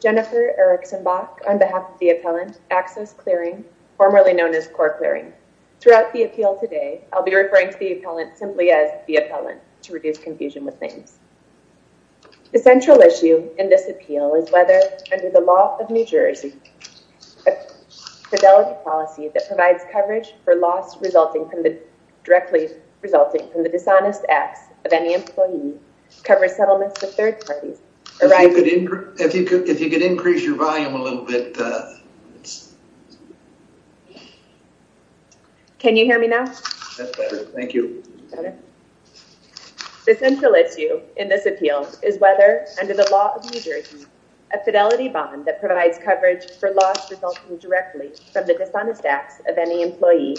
Jennifer Erickson Bach on behalf of the appellant, Axos Clearing, formerly known as Core Clearing. Throughout the appeal today, I'll be referring to the appellant simply as the appellant, to reduce confusion with names. The central issue in this appeal is whether, under the law of New Jersey, a fidelity policy that provides coverage for loss directly resulting from the dishonest acts of any employee cover settlements for third parties arising from employee dishonesty. If you could increase your volume a little bit. Can you hear me now? That's better. Thank you. The central issue in this appeal is whether, under the law of New Jersey, a fidelity bond that provides coverage for loss resulting directly from the dishonest acts of any employee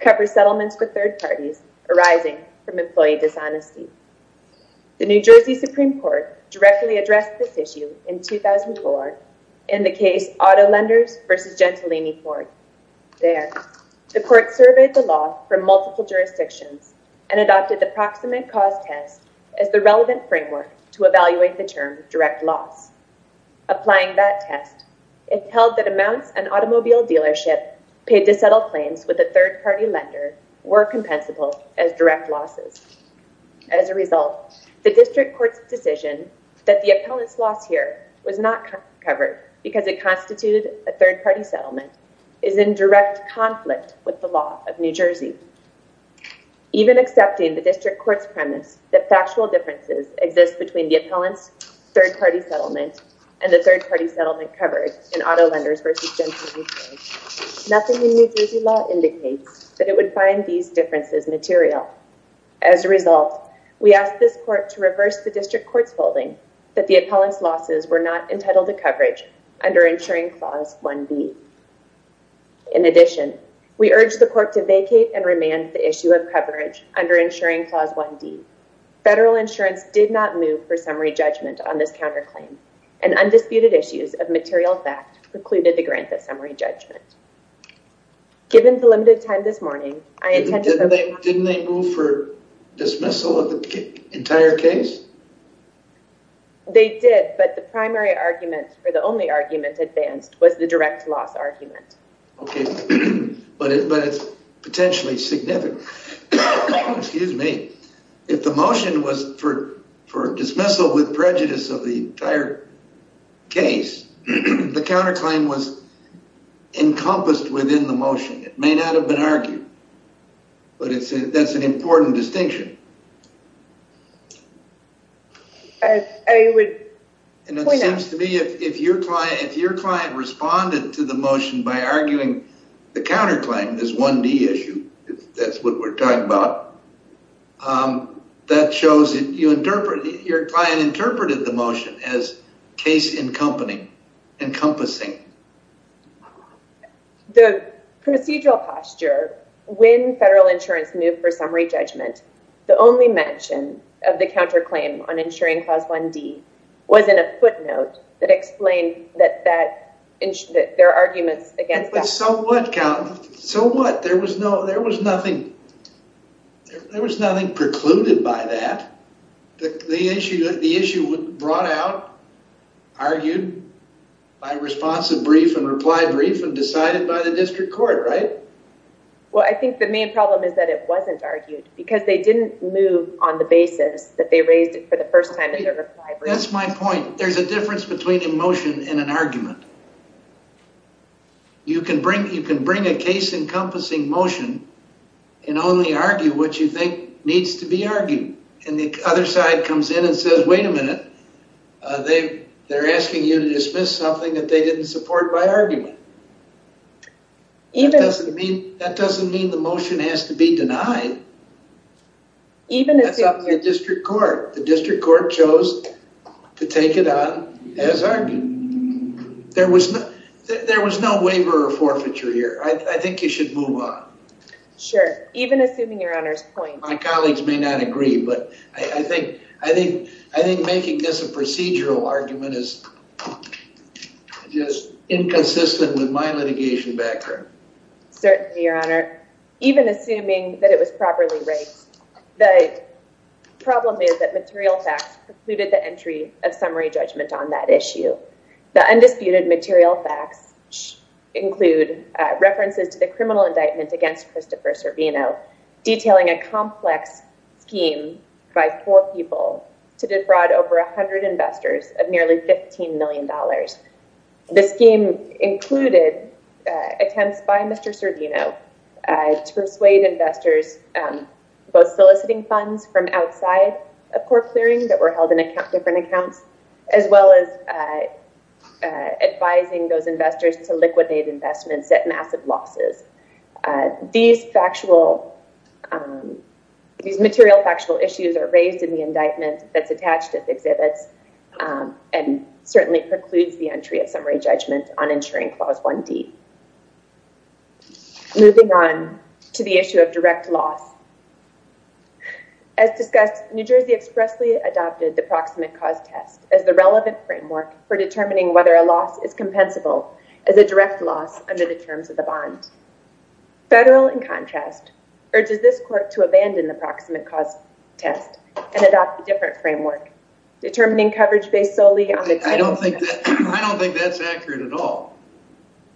cover settlements for third parties arising from employee dishonesty. The New Jersey Supreme Court directly addressed this issue in 2004 in the case Auto Lenders v. Gentilini Court. There, the court surveyed the law from multiple jurisdictions and adopted the proximate cause test as the relevant framework to evaluate the term direct loss. Applying that test, it held that amounts an automobile dealership paid to settle claims with a third-party lender were compensable as direct losses. As a result, the district court's decision that the appellant's loss here was not covered because it constituted a third-party settlement is in direct conflict with the law of New Jersey. Even accepting the district court's premise that factual differences exist between the appellant's third-party settlement and the third-party settlement covered in Auto Lenders v. Gentilini Court, nothing in New Jersey law indicates that it would find these differences material. As a result, we asked this court to reverse the district court's holding that the appellant's losses were not entitled to coverage under Insuring Clause 1B. In addition, we urged the court to vacate and remand the issue of coverage under Insuring Clause 1D. Federal insurance did not move for summary judgment on this counterclaim and undisputed issues of material fact precluded the grant of summary judgment. Given the limited time this morning, I intend to... Didn't they move for dismissal of the entire case? They did, but the primary argument, or the only argument advanced, was the direct loss argument. Okay, but it's potentially significant. Excuse me. If the motion was for dismissal with prejudice of the entire case, the counterclaim was encompassed within the motion. It may not have been argued, but that's an important distinction. I would point out... And it seems to me if your client responded to the motion by arguing the counterclaim, this 1D issue, if that's what we're talking about, that shows that your client interpreted the motion as case-encompassing. The procedural posture, when federal insurance moved for summary judgment, the only mention of the counterclaim on Insuring Clause 1D was in a footnote that explained that there are arguments against that. But so what, count? So what? There was nothing precluded by that. The issue was brought out, argued by responsive brief and reply brief, and decided by the district court, right? Well, I think the main problem is that it wasn't argued because they didn't move on the basis that they raised it for the first time in their reply brief. That's my point. There's a difference between a motion and an argument. You can bring a case-encompassing motion and only argue what you think needs to be argued. And the other side comes in and says, wait a minute, they're asking you to dismiss something that they didn't support by argument. That doesn't mean the motion has to be denied. That's up to the district court. The district court chose to take it on as argued. There was no waiver or forfeiture here. I think you should move on. Sure, even assuming your Honor's point. My colleagues may not agree, but I think making this a procedural argument is just inconsistent with my litigation background. Certainly, Your Honor. Even assuming that it was properly raised, the problem is that material facts precluded the entry of summary judgment on that issue. The undisputed material facts include references to the criminal indictment against Christopher Servino, detailing a complex scheme by four people to defraud over 100 investors of nearly $15 million. The scheme included attempts by Mr. Servino to persuade investors, both soliciting funds from outside of court clearing that were held in different accounts, as well as advising those investors to liquidate investments at massive losses. These material factual issues are raised in the indictment that's attached at the exhibits and certainly precludes the entry of summary judgment on ensuring Clause 1D. Moving on to the issue of direct loss. As discussed, New Jersey expressly adopted the Proximate Cause Test as the relevant framework for determining whether a loss is compensable as a direct loss under the terms of the bond. Federal, in contrast, urges this court to abandon the Proximate Cause Test and adopt a different framework, determining coverage based solely on the title of the test. I don't think that's accurate at all.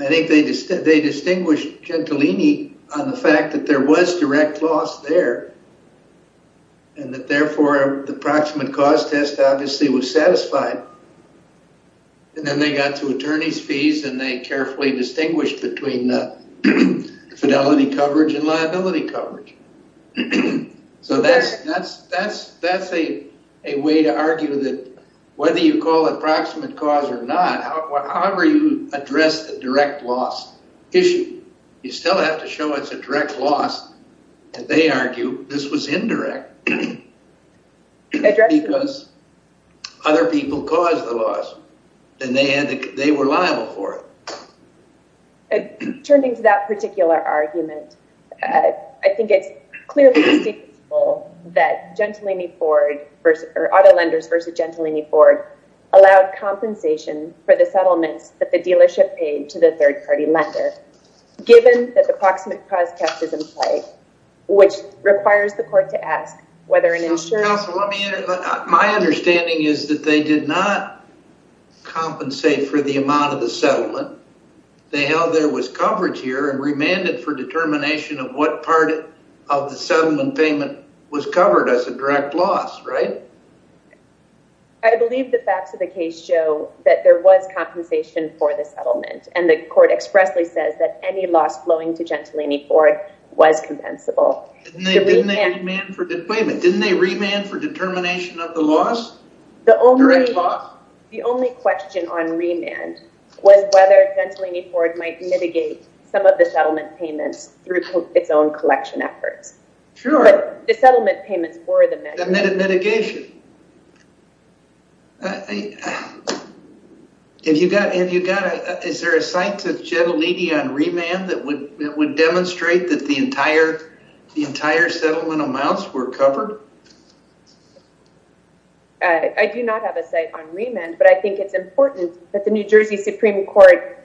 I think they distinguished Gentilini on the fact that there was direct loss there and that therefore the Proximate Cause Test obviously was satisfied. And then they got to attorney's fees and they carefully distinguished between fidelity coverage and liability coverage. So that's a way to argue that whether you call it Proximate Cause or not, however you address the direct loss issue, you still have to show it's a direct loss. And they argue this was indirect because other people caused the loss and they were liable for it. Turning to that particular argument, I think it's clearly distinguishable that auto lenders versus Gentilini Ford allowed compensation for the settlements that the dealership paid to the third-party lender. Given that the Proximate Cause Test is in play, which requires the court to ask whether an insurer... Counsel, my understanding is that they did not compensate for the amount of the settlement. They held there was coverage here and remanded for determination of what part of the settlement payment was covered as a direct loss, right? I believe the facts of the case show that there was compensation for the settlement and the court expressly says that any loss flowing to Gentilini Ford was compensable. Wait a minute, didn't they remand for determination of the loss? The only question on remand was whether Gentilini Ford might mitigate some of the settlement payments through its own collection efforts. Sure. But the settlement payments were the measure. The mitigation. Is there a site to Gentilini on remand that would demonstrate that the entire settlement amounts were covered? I do not have a site on remand, but I think it's important that the New Jersey Supreme Court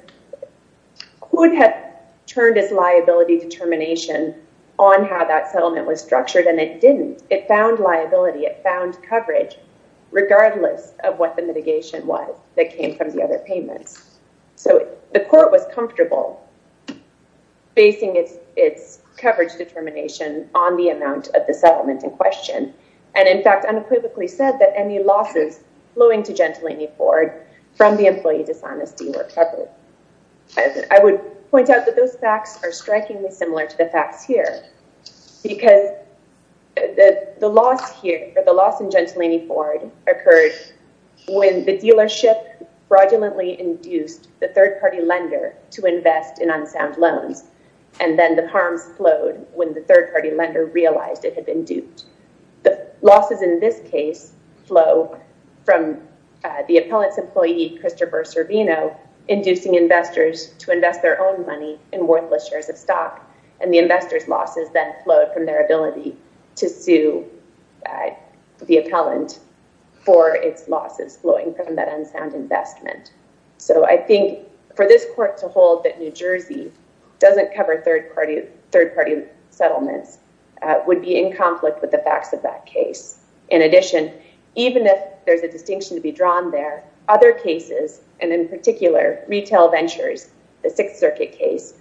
could have turned its liability determination on how that settlement was structured, and it didn't. It found liability, it found coverage, regardless of what the mitigation was that came from the other payments. So the court was comfortable facing its coverage determination on the amount of the settlement in question, and in fact unequivocally said that any losses flowing to Gentilini Ford from the employee dishonesty were covered. I would point out that those facts are strikingly similar to the facts here because the loss here, or the loss in Gentilini Ford, occurred when the dealership fraudulently induced the third-party lender to invest in unsound loans, and then the harms flowed when the third-party lender realized it had been duped. The losses in this case flow from the appellant's employee, Christopher Servino, inducing investors to invest their own money in worthless shares of stock, and the investors' losses then flowed from their ability to sue the appellant for its losses flowing from that unsound investment. So I think for this court to hold that New Jersey doesn't cover third-party settlements would be in conflict with the facts of that case. In addition, even if there's a distinction to be drawn there, other cases, and in particular, retail ventures, the Sixth Circuit case,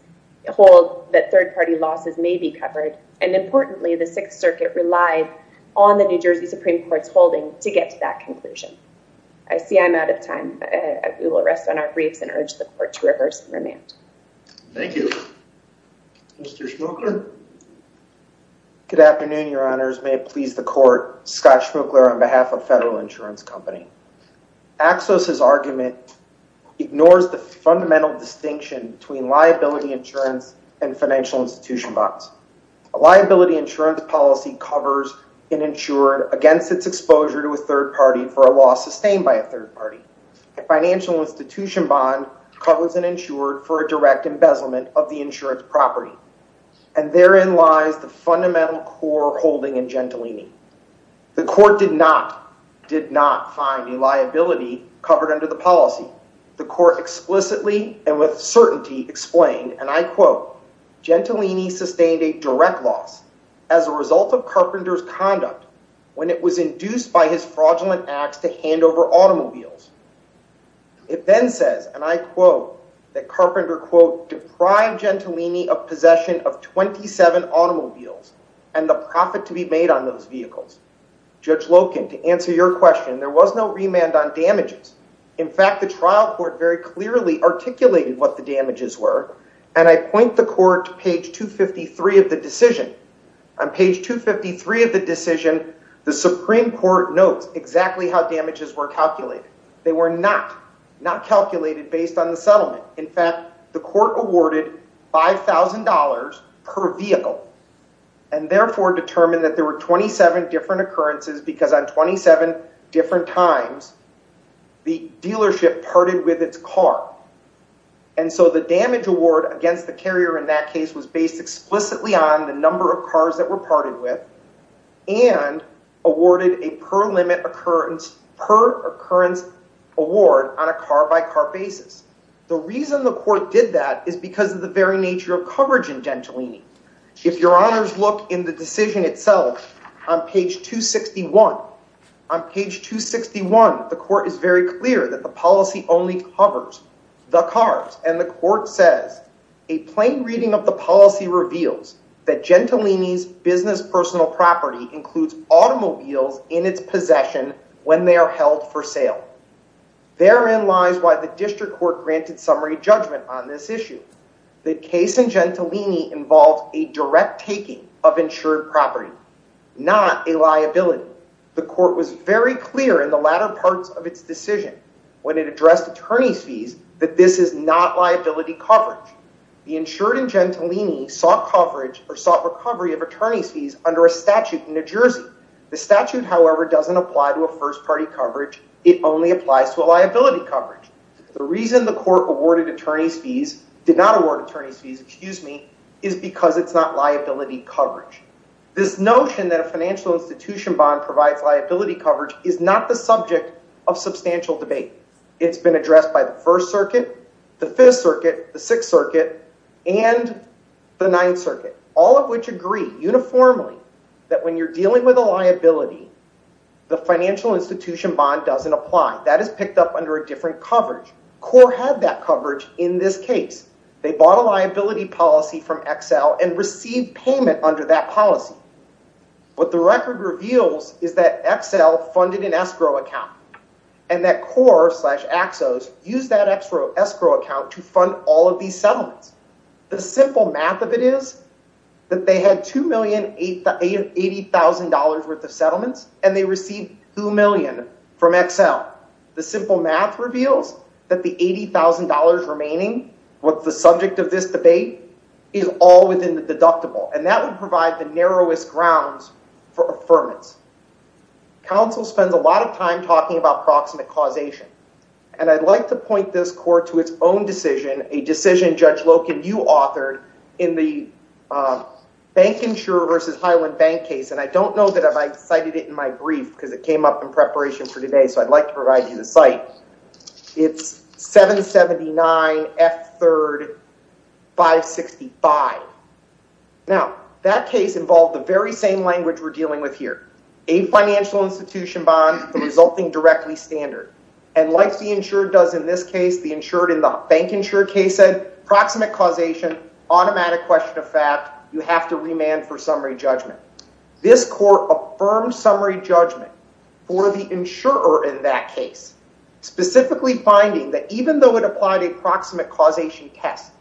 hold that third-party losses may be covered, and importantly, the Sixth Circuit relied on the New Jersey Supreme Court's holding to get to that conclusion. I see I'm out of time. We will rest on our briefs and urge the court to reverse and remand. Thank you. Mr. Schmuchler? Good afternoon, Your Honors. May it please the court, Scott Schmuchler on behalf of Federal Insurance Company. Axos's argument ignores the fundamental distinction between liability insurance and financial institution bonds. A liability insurance policy covers an insured against its exposure to a third party for a loss sustained by a third party. A financial institution bond covers an insured for a direct embezzlement of the insurance property, and therein lies the fundamental core holding in Gentilini. The court did not find a liability covered under the policy. The court explicitly and with certainty explained, and I quote, Gentilini sustained a direct loss as a result of Carpenter's conduct when it was induced by his fraudulent acts to hand over automobiles. It then says, and I quote, that Carpenter, quote, Judge Loken, to answer your question, there was no remand on damages. In fact, the trial court very clearly articulated what the damages were, and I point the court to page 253 of the decision. On page 253 of the decision, the Supreme Court notes exactly how damages were calculated. They were not calculated based on the settlement. In fact, the court awarded $5,000 per vehicle and therefore determined that there were 27 different occurrences because on 27 different times, the dealership parted with its car. And so the damage award against the carrier in that case was based explicitly on the number of cars that were parted with and awarded a per-occurrence award on a car-by-car basis. The reason the court did that is because of the very nature of coverage in Gentilini. If your honors look in the decision itself, on page 261, on page 261, the court is very clear that the policy only covers the cars, and the court says, a plain reading of the policy reveals that Gentilini's business personal property includes automobiles in its possession when they are held for sale. Therein lies why the district court granted summary judgment on this issue, that case in Gentilini involved a direct taking of insured property, not a liability. The court was very clear in the latter parts of its decision when it addressed attorney's fees that this is not liability coverage. The insured in Gentilini sought coverage or sought recovery of attorney's fees under a statute in New Jersey. The statute, however, doesn't apply to a first-party coverage. It only applies to a liability coverage. The reason the court did not award attorney's fees is because it's not liability coverage. This notion that a financial institution bond provides liability coverage is not the subject of substantial debate. It's been addressed by the First Circuit, the Fifth Circuit, the Sixth Circuit, and the Ninth Circuit, all of which agree uniformly that when you're dealing with a liability, the financial institution bond doesn't apply. That is picked up under a different coverage. CORE had that coverage in this case. They bought a liability policy from Excel and received payment under that policy. What the record reveals is that Excel funded an escrow account and that CORE slash AXOS used that escrow account to fund all of these settlements. The simple math of it is that they had $2,080,000 worth of settlements and they received $2 million from Excel. The simple math reveals that the $80,000 remaining, what's the subject of this debate, is all within the deductible, and that would provide the narrowest grounds for affirmance. Counsel spends a lot of time talking about proximate causation, and I'd like to point this court to its own decision, a decision Judge Loken, you authored in the Bank Insurer v. Highland Bank case, and I don't know that I've cited it in my brief because it came up in preparation for today, so I'd like to provide you the cite. It's 779F3-565. Now, that case involved the very same language we're dealing with here, a financial institution bond resulting directly standard, and like the insured does in this case, the insured in the Bank Insurer case said, proximate causation, automatic question of fact, you have to remand for summary judgment. This court affirmed summary judgment for the insurer in that case, specifically finding that even though it applied a proximate causation test,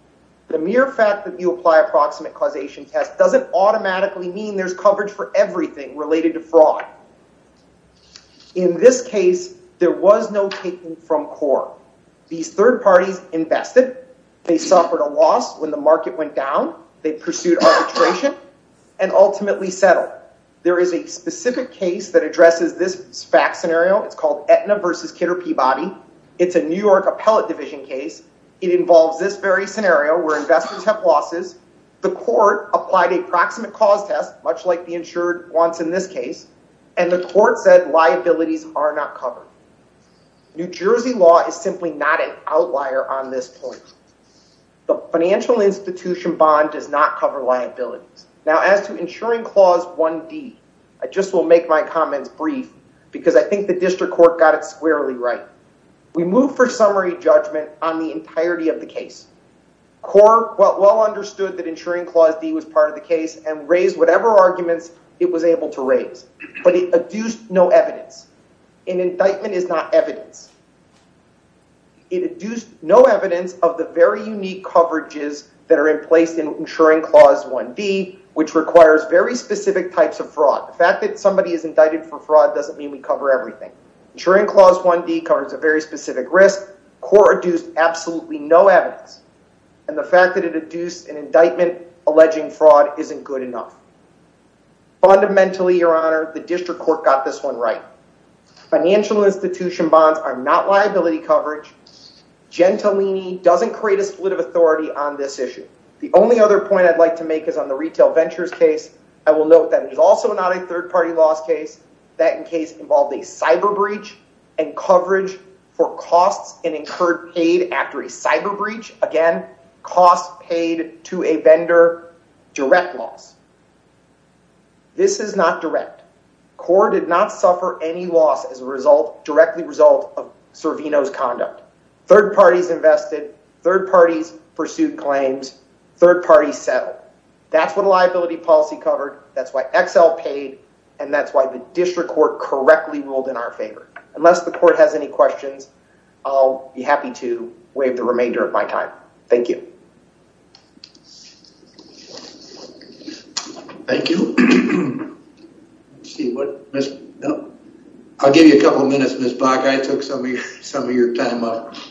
the mere fact that you apply a proximate causation test doesn't automatically mean there's coverage for everything related to fraud. In this case, there was no taking from core. These third parties invested. They suffered a loss when the market went down. They pursued arbitration and ultimately settled. There is a specific case that addresses this fact scenario. It's called Aetna versus Kidder Peabody. It's a New York Appellate Division case. It involves this very scenario where investors have losses. The court applied a proximate cause test, much like the insured wants in this case, and the court said liabilities are not covered. New Jersey law is simply not an outlier on this point. The financial institution bond does not cover liabilities. Now, as to insuring clause 1D, I just will make my comments brief because I think the district court got it squarely right. We move for summary judgment on the entirety of the case. Core well understood that insuring clause D was part of the case and raised whatever arguments it was able to raise, but it adduced no evidence. An indictment is not evidence. It adduced no evidence of the very unique coverages that are in place in insuring clause 1D, which requires very specific types of fraud. The fact that somebody is indicted for fraud doesn't mean we cover everything. Insuring clause 1D covers a very specific risk. Core adduced absolutely no evidence, and the fact that it adduced an indictment alleging fraud isn't good enough. Fundamentally, Your Honor, the district court got this one right. Financial institution bonds are not liability coverage. Gentilini doesn't create a split of authority on this issue. The only other point I'd like to make is on the retail ventures case. I will note that it is also not a third-party loss case. That case involved a cyber breach and coverage for costs and incurred paid after a cyber breach. Again, costs paid to a vendor, direct loss. This is not direct. Core did not suffer any loss as a direct result of Cervino's conduct. Third parties invested. Third parties pursued claims. Third parties settled. That's what liability policy covered. That's why XL paid, and that's why the district court correctly ruled in our favor. Unless the court has any questions, I'll be happy to waive the remainder of my time. Thank you. Thank you. Let's see. I'll give you a couple of minutes, Ms. Block. I took some of your time off.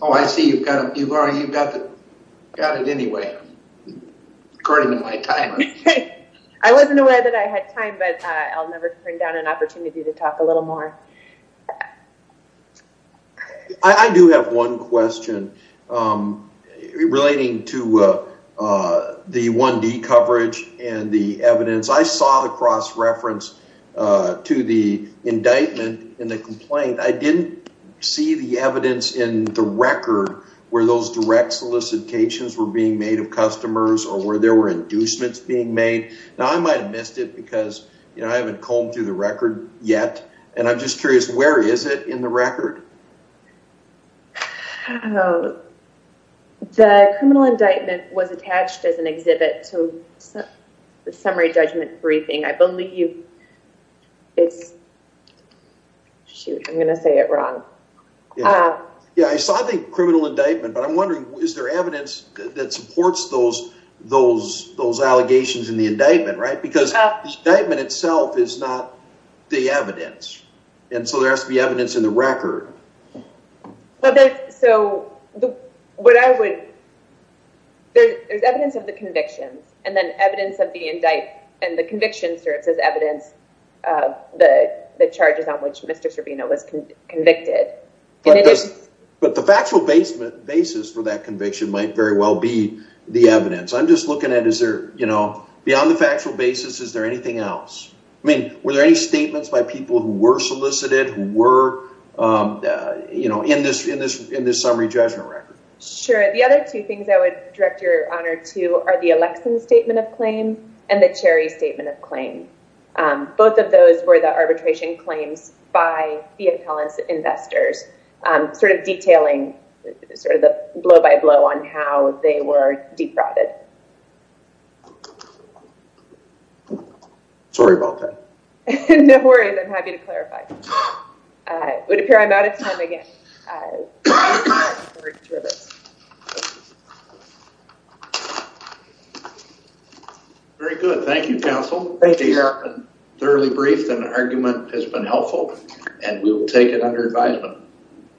Oh, I see you've got it anyway, according to my timer. I wasn't aware that I had time, but I'll never bring down an opportunity to talk a little more. I do have one question relating to the 1D coverage and the evidence. I saw the cross-reference to the indictment in the complaint. I didn't see the evidence in the record where those direct solicitations were being made of customers or where there were inducements being made. Now, I might have missed it because, you know, I haven't combed through the record yet, and I'm just curious, where is it in the record? The criminal indictment was attached as an exhibit to the summary judgment briefing. I believe it's—shoot, I'm going to say it wrong. Yeah, I saw the criminal indictment, but I'm wondering, is there evidence that supports those allegations in the indictment, right? Because the indictment itself is not the evidence, and so there has to be evidence in the record. There's evidence of the convictions, and then evidence of the indict— and the convictions serves as evidence of the charges on which Mr. Servino was convicted. But the factual basis for that conviction might very well be the evidence. I'm just looking at is there, you know—beyond the factual basis, is there anything else? I mean, were there any statements by people who were solicited, who were, you know, in this summary judgment record? Sure. The other two things I would direct your honor to are the Alexson statement of claim and the Cherry statement of claim. Both of those were the arbitration claims by the appellants' investors, sort of detailing sort of the blow-by-blow on how they were defrauded. Sorry about that. No worries. I'm happy to clarify. It would appear I'm out of time again. Very good. Thank you, counsel. Thank you, your honor. It's been thoroughly brief, and the argument has been helpful, and we will take it under advisement.